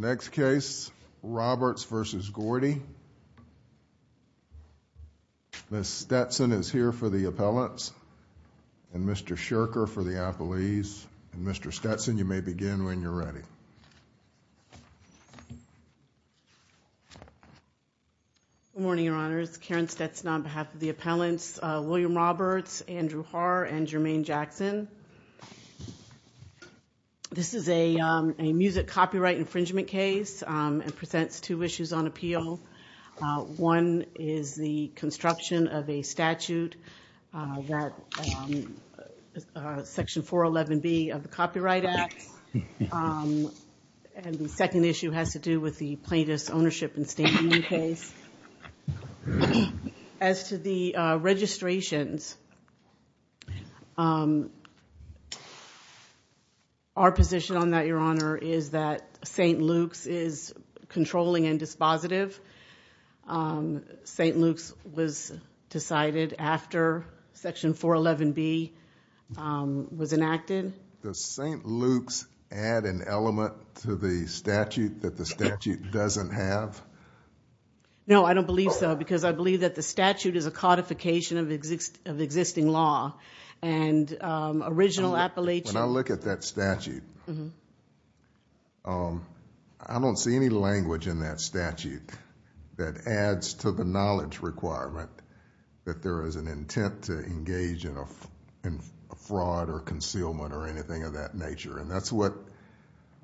Ms. Stetson is here for the appellants, and Mr. Shirker for the appellees, and Mr. Stetson, you may begin when you're ready. Good morning, Your Honors. Karen Stetson on behalf of the appellants, William Roberts, Andrew Haar, and Jermaine Jackson. This is a music copyright infringement case and presents two issues on appeal. One is the construction of a statute that Section 411B of the Copyright Act, and the second issue has to do with the plaintiff's ownership and standing case. As to the registrations, our position on that, Your Honor, is that St. Luke's is controlling and dispositive. St. Luke's was decided after Section 411B was enacted. Does St. Luke's add an element to the statute that the statute doesn't have? No, I don't believe so, because I believe that the statute is a codification of existing law and original appellation. When I look at that statute, I don't see any language in that statute that adds to the or anything of that nature, and that's what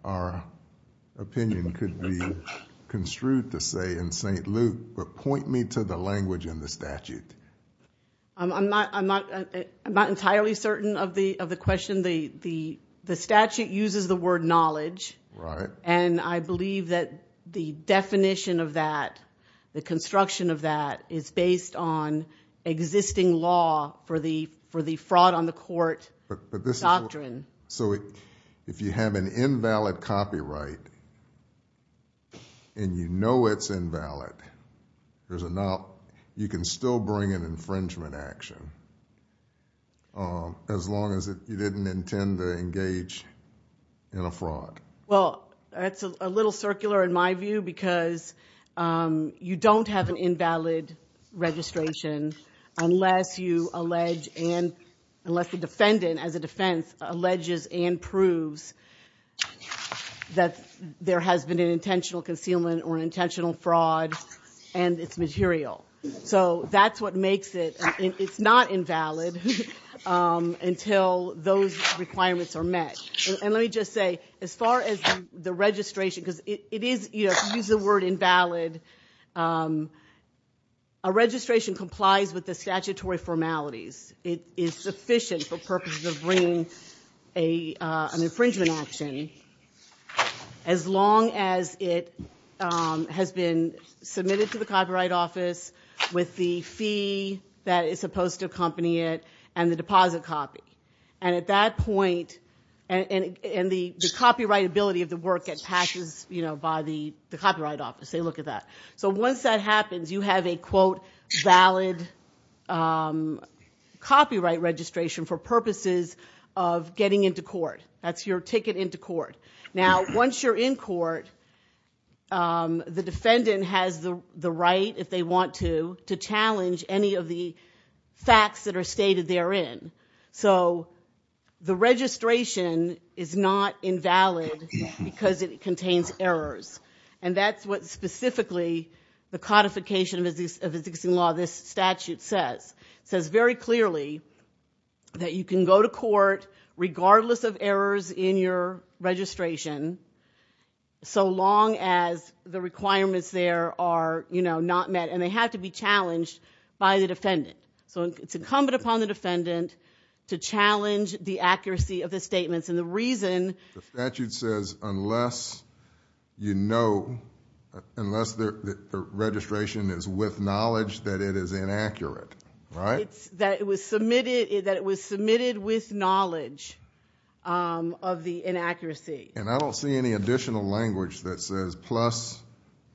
our opinion could be construed to say in St. Luke, but point me to the language in the statute. I'm not entirely certain of the question. The statute uses the word knowledge, and I believe that the definition of that, the construction of that is based on existing law for the fraud on the court doctrine. So if you have an invalid copyright, and you know it's invalid, you can still bring an infringement action, as long as you didn't intend to engage in a fraud? Well, that's a little circular in my view, because you don't have an invalid registration unless you allege and unless the defendant, as a defense, alleges and proves that there has been an intentional concealment or intentional fraud, and it's material. So that's what makes it, it's not invalid until those requirements are met. And let me just say, as far as the registration, because it is, you know, use the word invalid, a registration complies with the statutory formalities. It is sufficient for purposes of bringing an infringement action, as long as it has been submitted to the Copyright Office with the fee that is supposed to accompany it and the deposit copy. And at that point, and the copyrightability of the work that passes, you know, by the So once that happens, you have a, quote, valid copyright registration for purposes of getting into court. That's your ticket into court. Now, once you're in court, the defendant has the right, if they want to, to challenge any of the facts that are stated therein. So the registration is not invalid, because it contains errors. And that's what, specifically, the codification of the existing law, this statute says. It says very clearly that you can go to court, regardless of errors in your registration, so long as the requirements there are, you know, not met. And they have to be challenged by the defendant. So it's incumbent upon the defendant to challenge the accuracy of the statements. And the reason- The statute says, unless you know, unless the registration is with knowledge that it is inaccurate, right? That it was submitted with knowledge of the inaccuracy. And I don't see any additional language that says, plus,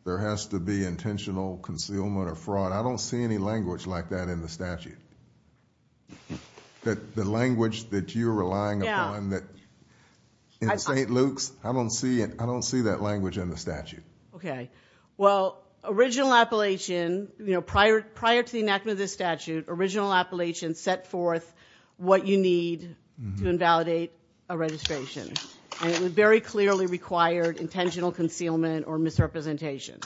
there has to be intentional concealment or fraud. I don't see any language like that in the statute. That the language that you're relying upon, that in St. Luke's, I don't see that language in the statute. Okay. Well, original appellation, you know, prior to the enactment of this statute, original appellation set forth what you need to invalidate a registration. And it very clearly required intentional concealment or misrepresentation.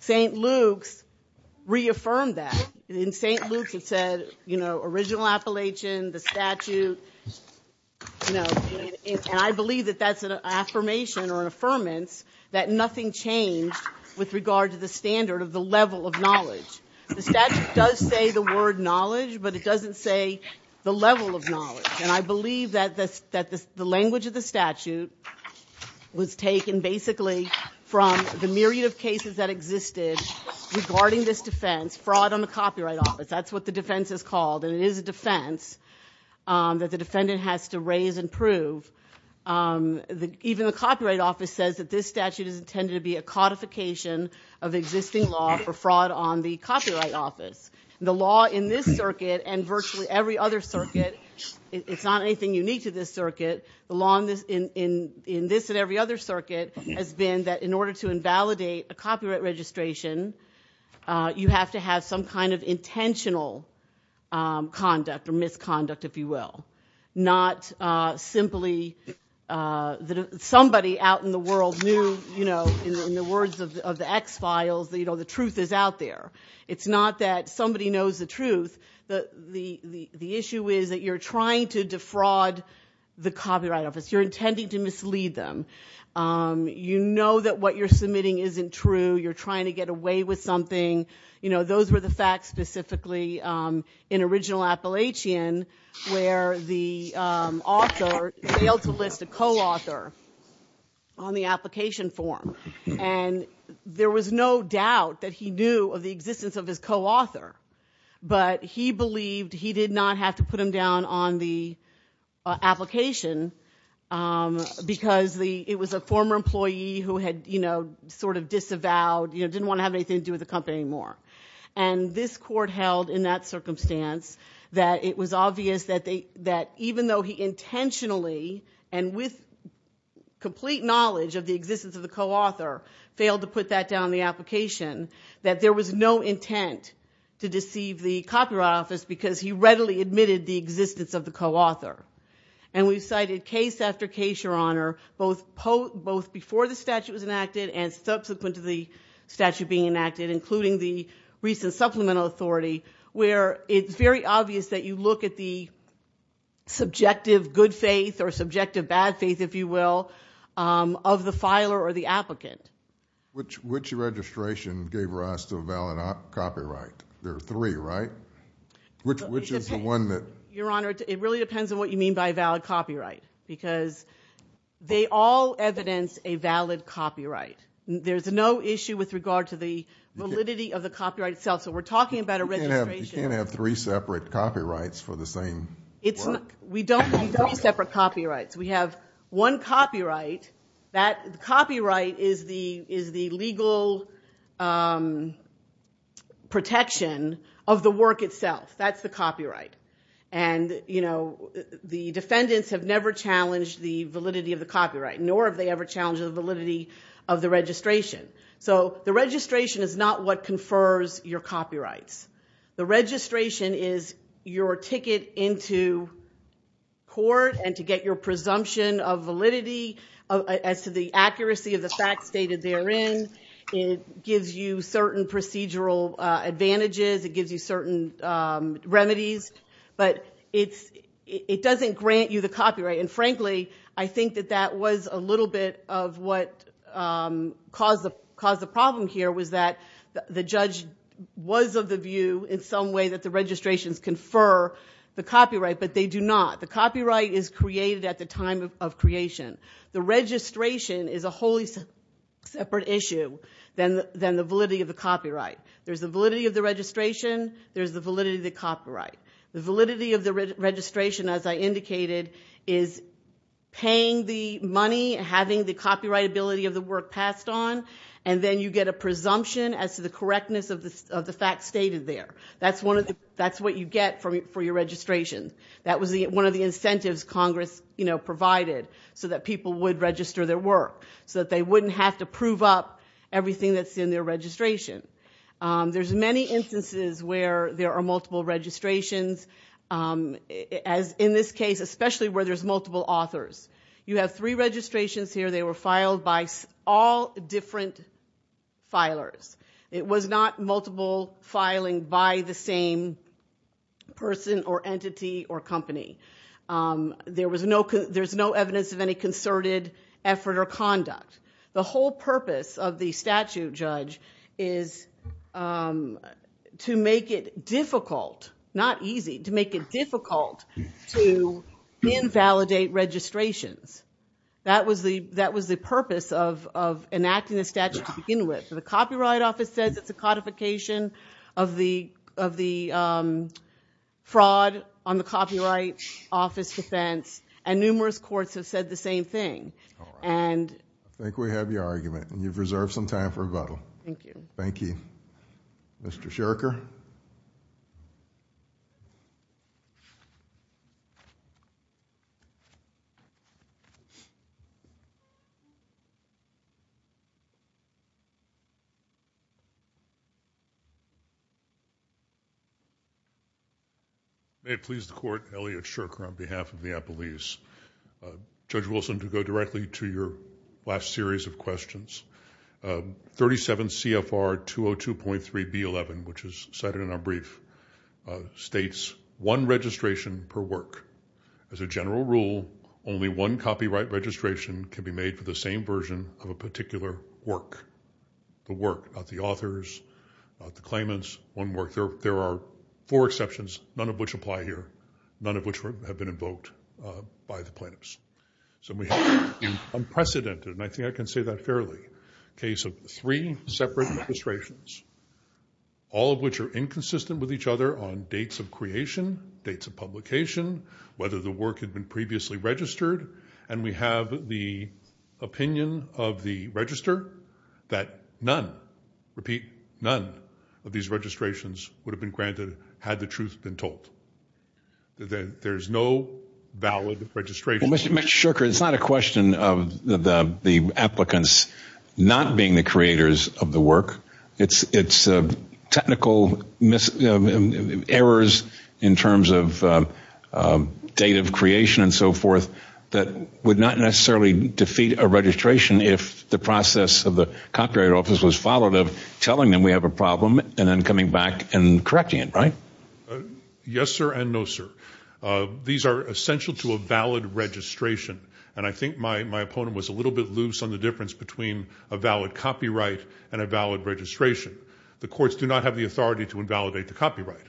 St. Luke's reaffirmed that. In St. Luke's it said, you know, original appellation, the statute, you know, and I believe that that's an affirmation or an affirmance that nothing changed with regard to the standard of the level of knowledge. The statute does say the word knowledge, but it doesn't say the level of knowledge. And I believe that the language of the statute was taken basically from the myriad of cases that existed regarding this defense, fraud on the copyright office. That's what the defense is called. And it is a defense that the defendant has to raise and prove. Even the copyright office says that this statute is intended to be a codification of existing law for fraud on the copyright office. The law in this circuit and virtually every other circuit, it's not anything unique to this circuit. The law in this and every other circuit has been that in order to invalidate a copyright registration, you have to have some kind of intentional conduct or misconduct, if you will. Not simply somebody out in the world knew, you know, in the words of the X-Files, you know, the truth is out there. It's not that somebody knows the truth. The issue is that you're trying to defraud the copyright office. You're intending to mislead them. You know that what you're submitting isn't true. You're trying to get away with something. You know, those were the facts specifically in original Appalachian where the author failed to list a co-author on the application form. And there was no doubt that he knew of the existence of his co-author. But he believed he did not have to put him down on the application because it was a former employee who had, you know, sort of disavowed, you know, didn't want to have anything to do with the company anymore. And this court held in that circumstance that it was obvious that even though he intentionally and with complete knowledge of the existence of the co-author failed to put that down on the application, that there was no intent to deceive the copyright office because he readily admitted the existence of the co-author. And we've cited case after case, Your Honor, both before the statute was enacted and subsequent to the statute being enacted, including the recent supplemental authority, where it's very obvious that you look at the subjective good faith or subjective bad faith, if you will, of the filer or the applicant. Which registration gave rise to a valid copyright? There are three, right? Which is the one that... Your Honor, it really depends on what you mean by valid copyright because they all evidence a valid copyright. There's no issue with regard to the validity of the copyright itself. So we're talking about a registration... You can't have three separate copyrights for the same work. We don't have three separate copyrights. We have one copyright. That copyright is the legal protection of the work itself. That's the copyright. And you know, the defendants have never challenged the validity of the copyright, nor have they ever challenged the validity of the registration. So the registration is not what confers your copyrights. The registration is your ticket into court and to get your presumption of validity as to the accuracy of the facts stated therein. It gives you certain procedural advantages. It gives you certain remedies. But it doesn't grant you the copyright. And frankly, I think that that was a little bit of what caused the problem here was that the judge was of the view in some way that the registrations confer the copyright, but they do not. The copyright is created at the time of creation. The registration is a wholly separate issue than the validity of the copyright. There's the validity of the registration. There's the validity of the copyright. The validity of the registration, as I indicated, is paying the money, having the copyright ability of the work passed on, and then you get a presumption as to the correctness of the facts stated there. That's what you get for your registration. That was one of the incentives Congress provided so that people would register their work, so that they wouldn't have to prove up everything that's in their registration. There's many instances where there are multiple registrations, as in this case, especially where there's multiple authors. You have three registrations here. They were filed by all different filers. It was not multiple filing by the same person or entity or company. The whole purpose of the statute, Judge, is to make it difficult, not easy, to make it difficult to invalidate registrations. That was the purpose of enacting the statute to begin with. The Copyright Office says it's a codification of the fraud on the Copyright Office defense, and numerous courts have said the same thing. I think we have your argument, and you've reserved some time for rebuttal. Thank you. Thank you. Mr. Shurker? May it please the Court, Elliot Shurker on behalf of the Applebee's. Judge Wilson, to go directly to your last series of questions, 37 CFR 202.3B11, which is cited in our brief, states one registration per work. As a general rule, only one copyright registration can be made for the same version of a particular work. The work, not the authors, not the claimants, one work. There are four exceptions, none of which apply here, none of which have been invoked by the plaintiffs. So we have an unprecedented, and I think I can say that fairly, case of three separate registrations, all of which are inconsistent with each other on dates of creation, dates of publication, whether the work had been previously registered, and we have the opinion of the register that none, repeat, none of these registrations would have been granted had the truth been told. There's no valid registration. Well, Mr. Shurker, it's not a question of the applicants not being the creators of the work. It's technical errors in terms of date of creation and so forth that would not necessarily defeat a registration if the process of the copyright office was followed of telling them we have a problem and then coming back and correcting it, right? Yes sir and no sir. These are essential to a valid registration, and I think my opponent was a little bit loose on the difference between a valid copyright and a valid registration. The courts do not have the authority to invalidate the copyright.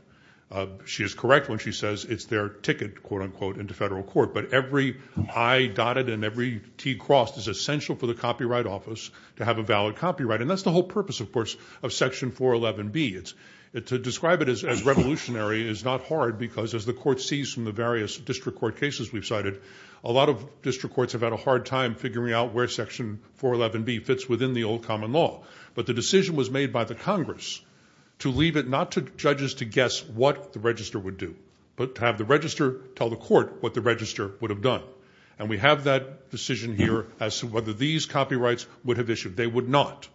She is correct when she says it's their ticket, quote unquote, into federal court, but every A dotted and every T crossed is essential for the copyright office to have a valid copyright, and that's the whole purpose, of course, of Section 411B. To describe it as revolutionary is not hard because as the court sees from the various district court cases we've cited, a lot of district courts have had a hard time figuring out where Section 411B fits within the old common law, but the decision was made by the Congress to leave it not to judges to guess what the register would do, but to have the We have that decision here as to whether these copyrights would have issued. They would not.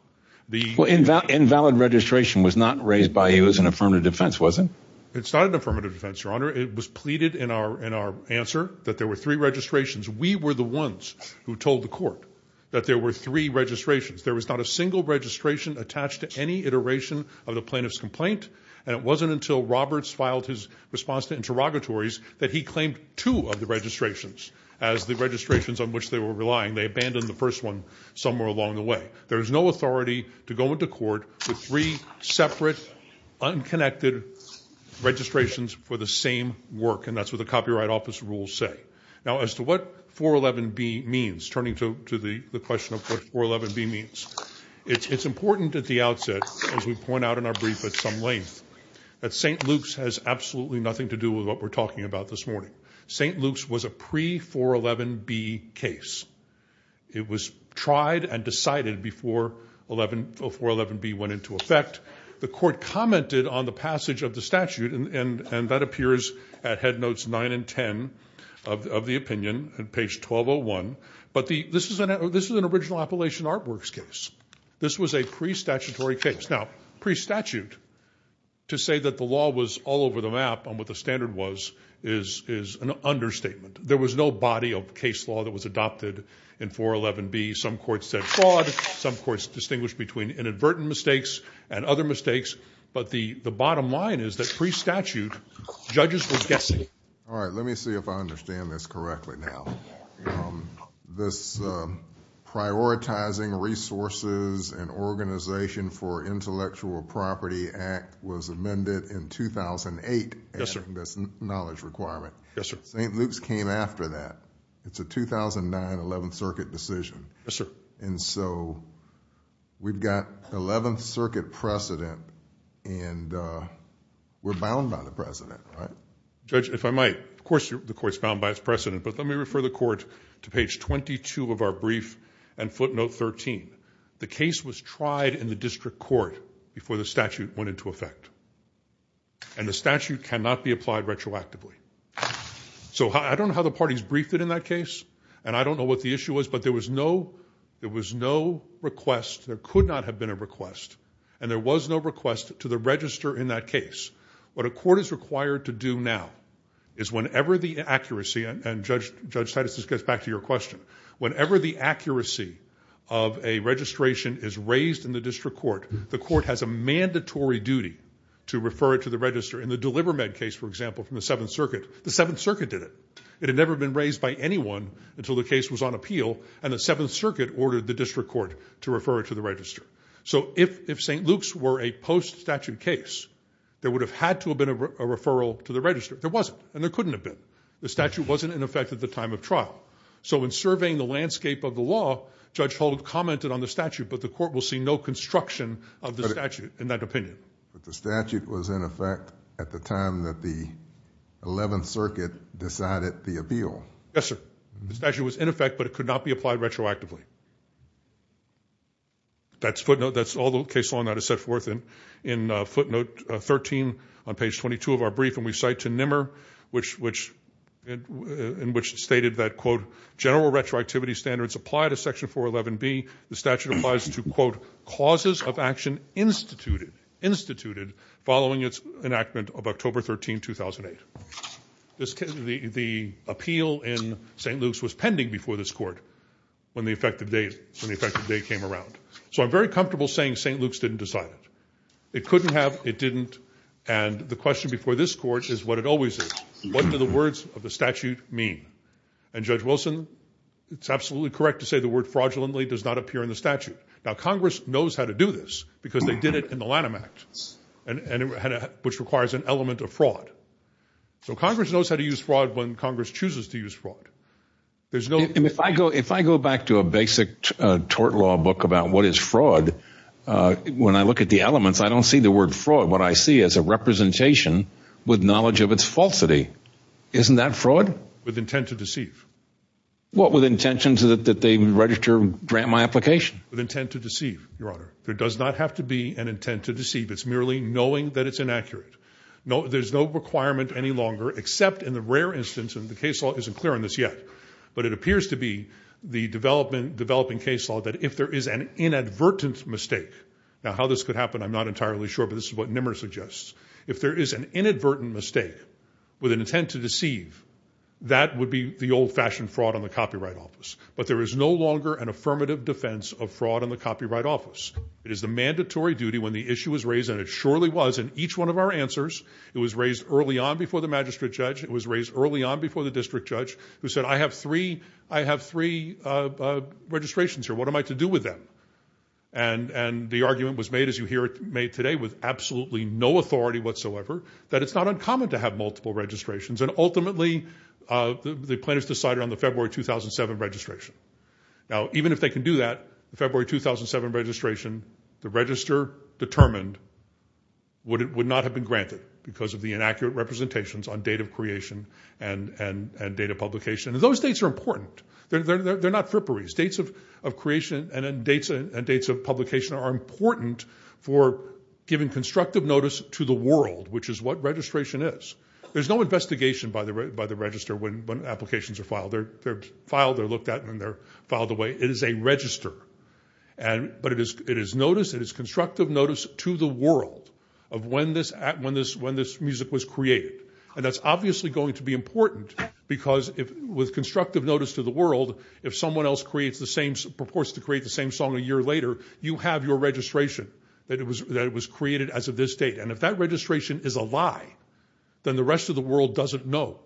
Well, invalid registration was not raised by you as an affirmative defense, was it? It's not an affirmative defense, your honor. It was pleaded in our answer that there were three registrations. We were the ones who told the court that there were three registrations. There was not a single registration attached to any iteration of the plaintiff's complaint, and it wasn't until Roberts filed his response to interrogatories that he claimed two of the registrations. As the registrations on which they were relying, they abandoned the first one somewhere along the way. There is no authority to go into court with three separate, unconnected registrations for the same work, and that's what the Copyright Office rules say. Now, as to what 411B means, turning to the question of what 411B means, it's important at the outset, as we point out in our brief at some length, that St. Luke's has absolutely nothing to do with what we're talking about this morning. St. Luke's was a pre-411B case. It was tried and decided before 411B went into effect. The court commented on the passage of the statute, and that appears at head notes nine and ten of the opinion, at page 1201. But this was an original Appalachian Artworks case. This was a pre-statutory case. Now, pre-statute, to say that the law was all over the map on what the standard was, is an understatement. There was no body of case law that was adopted in 411B. Some courts said fraud. Some courts distinguished between inadvertent mistakes and other mistakes. But the bottom line is that pre-statute, judges were guessing. All right. Let me see if I understand this correctly now. This Prioritizing Resources and Organization for Intellectual Property Act was amended in 2008. Yes, sir. Adding this knowledge requirement. Yes, sir. St. Luke's came after that. It's a 2009 11th Circuit decision. Yes, sir. And so, we've got 11th Circuit precedent, and we're bound by the precedent, right? Judge, if I might, of course the court's bound by its precedent, but let me refer the court to page 22 of our brief, and footnote 13. The case was tried in the district court before the statute went into effect. And the statute cannot be applied retroactively. So I don't know how the parties briefed it in that case, and I don't know what the issue was, but there was no request, there could not have been a request, and there was no request to the register in that case. What a court is required to do now is whenever the accuracy, and Judge Titus, this goes back to your question, whenever the accuracy of a registration is raised in the district court, the court has a mandatory duty to refer it to the register. In the DeliverMed case, for example, from the 7th Circuit, the 7th Circuit did it. It had never been raised by anyone until the case was on appeal, and the 7th Circuit ordered the district court to refer it to the register. So if St. Luke's were a post-statute case, there would have had to have been a referral to the register. There wasn't, and there couldn't have been. The statute wasn't in effect at the time of trial. So in surveying the landscape of the law, Judge Hold commented on the statute, but the court will see no construction of the statute in that opinion. But the statute was in effect at the time that the 11th Circuit decided the appeal. Yes, sir. The statute was in effect, but it could not be applied retroactively. That's footnote, that's all the case law that is set forth in footnote 13 on page 22 of our brief, and we cite to Nimmer, in which it stated that, quote, general retroactivity standards apply to Section 411B. The statute applies to, quote, causes of action instituted following its enactment of October 13, 2008. The appeal in St. Luke's was pending before this court when the effective date came around. So I'm very comfortable saying St. Luke's didn't decide it. It couldn't have, it didn't, and the question before this court is what it always is. What do the words of the statute mean? And Judge Wilson, it's absolutely correct to say the word fraudulently does not appear in the statute. Now, Congress knows how to do this because they did it in the Lanham Act, which requires an element of fraud. So Congress knows how to use fraud when Congress chooses to use fraud. There's no- And if I go, if I go back to a basic tort law book about what is fraud, when I look at the elements, I don't see the word fraud. What I see is a representation with knowledge of its falsity. Isn't that fraud? With intent to deceive. What with intentions that they register, grant my application? With intent to deceive, Your Honor. There does not have to be an intent to deceive. It's merely knowing that it's inaccurate. There's no requirement any longer, except in the rare instance, and the case law isn't clear on this yet, but it appears to be the developing case law that if there is an inadvertent mistake. Now, how this could happen, I'm not entirely sure, but this is what Nimmer suggests. If there is an inadvertent mistake with an intent to deceive, that would be the old-fashioned fraud on the Copyright Office. But there is no longer an affirmative defense of fraud on the Copyright Office. It is the mandatory duty when the issue is raised, and it surely was in each one of our answers. It was raised early on before the magistrate judge. It was raised early on before the district judge, who said, I have three registrations here. What am I to do with them? And the argument was made, as you hear it made today, with absolutely no authority whatsoever, that it's not uncommon to have multiple registrations. And ultimately, the plaintiffs decided on the February 2007 registration. Now, even if they can do that, the February 2007 registration, the register determined would not have been granted because of the inaccurate representations on date of creation and date of publication. Those dates are important. They're not fripperies. Dates of creation and dates of publication are important for giving constructive notice to the world, which is what registration is. There's no investigation by the register when applications are filed. They're filed, they're looked at, and then they're filed away. It is a register. But it is notice, it is constructive notice to the world of when this music was created. And that's obviously going to be important because with constructive notice to the world, if someone else proports to create the same song a year later, you have your registration that it was created as of this date. And if that registration is a lie, then the rest of the world doesn't know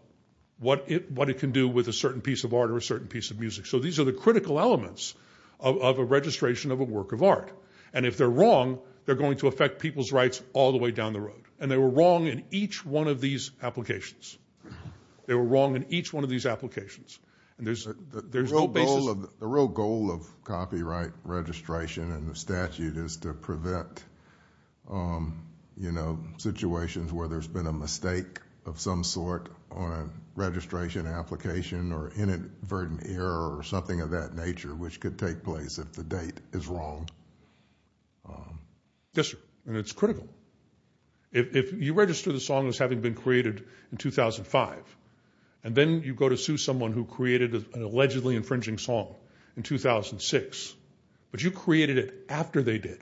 what it can do with a certain piece of art or a certain piece of music. So these are the critical elements of a registration of a work of art. And if they're wrong, they're going to affect people's rights all the way down the road. And they were wrong in each one of these applications. They were wrong in each one of these applications. And there's no basis. The real goal of copyright registration and the statute is to prevent, you know, situations where there's been a mistake of some sort on a registration application or inadvertent error or something of that nature, which could take place if the date is wrong. Yes, sir. And it's critical. If you register the song as having been created in 2005, and then you go to sue someone who created an allegedly infringing song in 2006, but you created it after they did,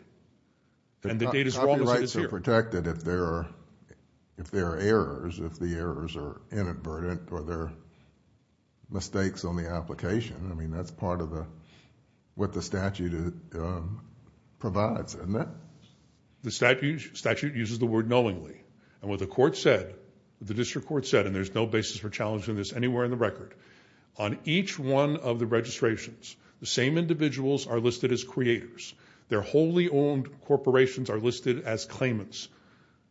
and the date is wrong as it is here. It's protected if there are errors, if the errors are inadvertent or there are mistakes on the application. I mean, that's part of what the statute provides, isn't it? The statute uses the word knowingly. And what the court said, the district court said, and there's no basis for challenging this anywhere in the record, on each one of the registrations, the same individuals are listed as creators. Their wholly owned corporations are listed as claimants.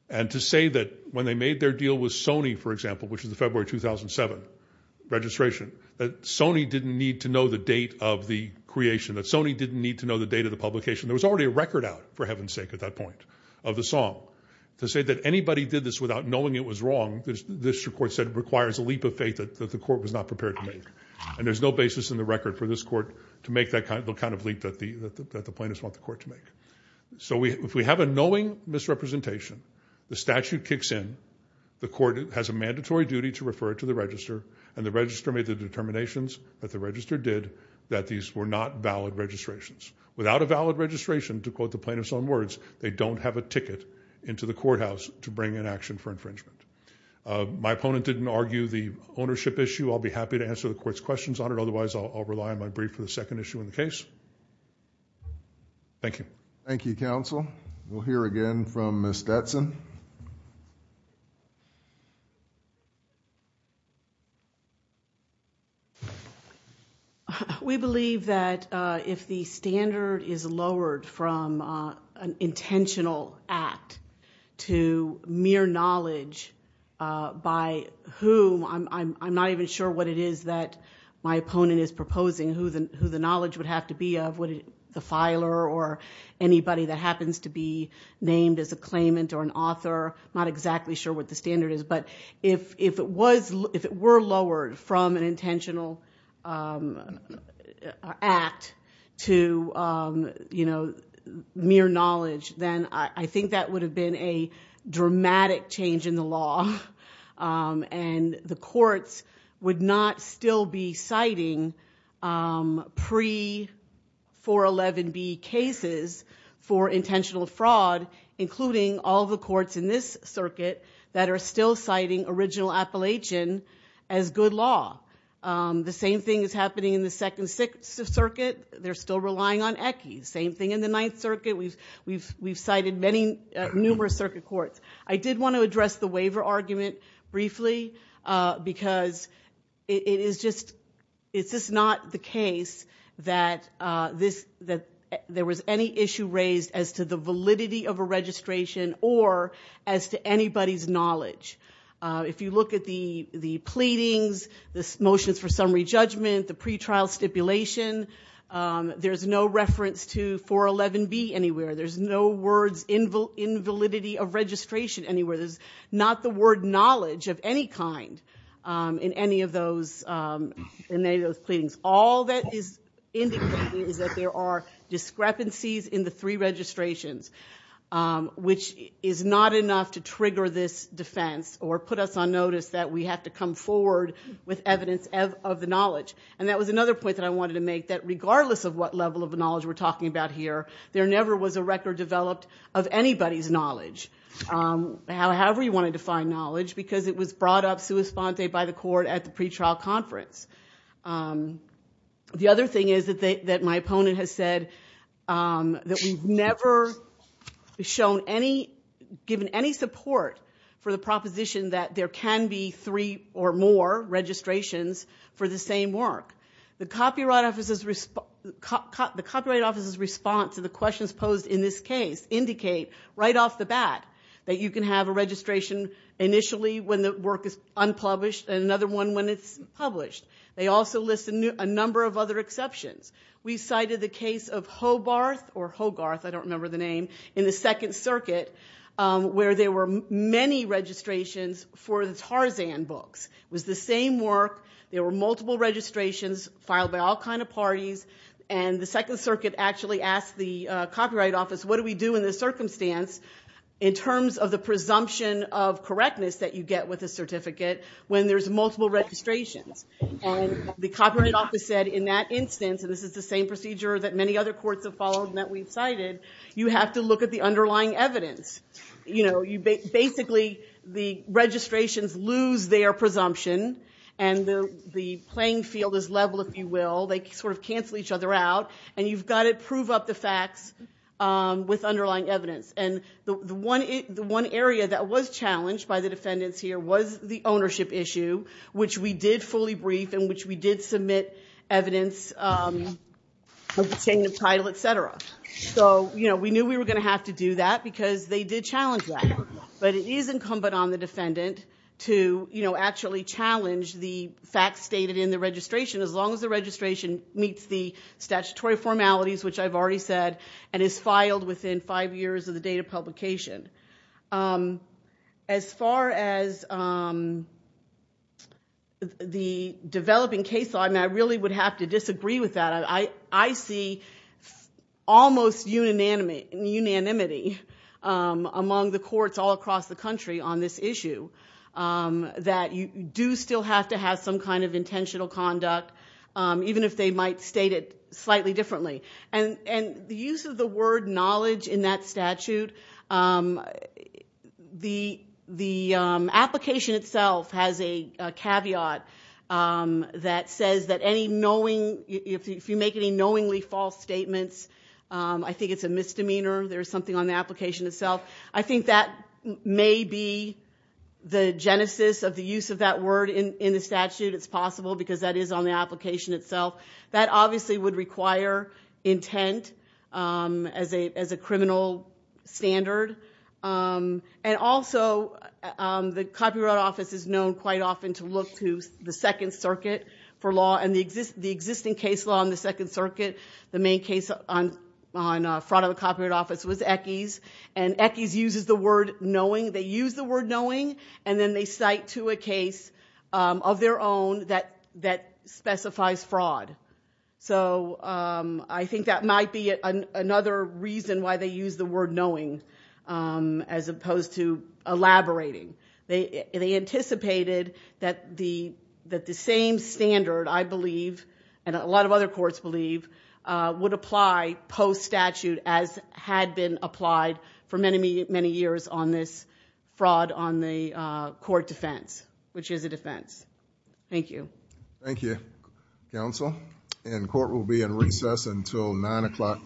And to say that when they made their deal with Sony, for example, which is the February 2007 registration, that Sony didn't need to know the date of the creation, that Sony didn't need to know the date of the publication. There was already a record out, for heaven's sake, at that point of the song. To say that anybody did this without knowing it was wrong, the district court said, requires a leap of faith that the court was not prepared to make. And there's no basis in the record for this court to make that kind of leap that the plaintiff want the court to make. So if we have a knowing misrepresentation, the statute kicks in, the court has a mandatory duty to refer it to the register, and the register made the determinations that the register did that these were not valid registrations. Without a valid registration, to quote the plaintiff's own words, they don't have a ticket into the courthouse to bring an action for infringement. My opponent didn't argue the ownership issue. I'll be happy to answer the court's questions on it. Thank you. Thank you, counsel. We'll hear again from Ms. Stetson. We believe that if the standard is lowered from an intentional act to mere knowledge by whom, I'm not even sure what it is that my opponent is proposing, who the knowledge would have to be of, the filer or anybody that happens to be named as a claimant or an author, I'm not exactly sure what the standard is. But if it were lowered from an intentional act to mere knowledge, then I think that would have been a dramatic change in the law. And the courts would not still be citing pre-411B cases for intentional fraud, including all the courts in this circuit that are still citing original appellation as good law. The same thing is happening in the Second Circuit. They're still relying on ECCE. Same thing in the Ninth Circuit. We've cited numerous circuit courts. I did want to address the waiver argument briefly because it is just not the case that there was any issue raised as to the validity of a registration or as to anybody's knowledge. If you look at the pleadings, the motions for summary judgment, the pretrial stipulation, there's no reference to 411B anywhere. There's no words, invalidity of registration anywhere. There's not the word knowledge of any kind in any of those pleadings. All that is indicated is that there are discrepancies in the three registrations, which is not enough to trigger this defense or put us on notice that we have to come forward with evidence of the knowledge. And that was another point that I wanted to make, that regardless of what level of knowledge we're talking about here, there never was a record developed of anybody's knowledge. However you want to define knowledge, because it was brought up sui sponte by the court at the pretrial conference. The other thing is that my opponent has said that we've never shown any, given any support for the proposition that there can be three or more registrations for the same work. The Copyright Office's response to the questions posed in this case indicate right off the bat that you can have a registration initially when the work is unpublished and another one when it's published. They also list a number of other exceptions. We cited the case of Hogarth in the Second Circuit where there were many registrations for the Tarzan books. It was the same work. There were multiple registrations filed by all kinds of parties. And the Second Circuit actually asked the Copyright Office, what do we do in this circumstance in terms of the presumption of correctness that you get with a certificate when there's multiple registrations? The Copyright Office said in that instance, and this is the same procedure that many other courts have followed and that we've cited, you have to look at the underlying evidence. Basically, the registrations lose their presumption and the playing field is level, if you will. They sort of cancel each other out and you've got to prove up the facts with underlying evidence. The one area that was challenged by the defendants here was the ownership issue, which we did fully brief and which we did submit evidence of obtaining the title, et cetera. We knew we were going to have to do that because they did challenge that. But it is incumbent on the defendant to actually challenge the facts stated in the registration as long as the registration meets the statutory formalities, which I've already said, and is filed within five years of the date of publication. As far as the developing case law, and I really would have to disagree with that. I see almost unanimity among the courts all across the country on this issue. That you do still have to have some kind of intentional conduct, even if they might state it slightly differently. The use of the word knowledge in that statute, the application itself has a caveat that says that if you make any knowingly false statements, I think it's a misdemeanor. There's something on the application itself. I think that may be the genesis of the use of that word in the statute. It's possible because that is on the application itself. That obviously would require intent as a criminal standard. And also the Copyright Office is known quite often to look to the Second Circuit for law and the existing case law in the Second Circuit. The main case on fraud of the Copyright Office was Eckes. And Eckes uses the word knowing. They use the word knowing and then they cite to a case of their own that specifies fraud. So I think that might be another reason why they use the word knowing as opposed to elaborating. They anticipated that the same standard, I believe, and a lot of other courts believe, would apply post-statute as had been applied for many, many years on this fraud on the court defense, which is a defense. Thank you. Thank you, counsel. And court will be in recess until 9 o'clock.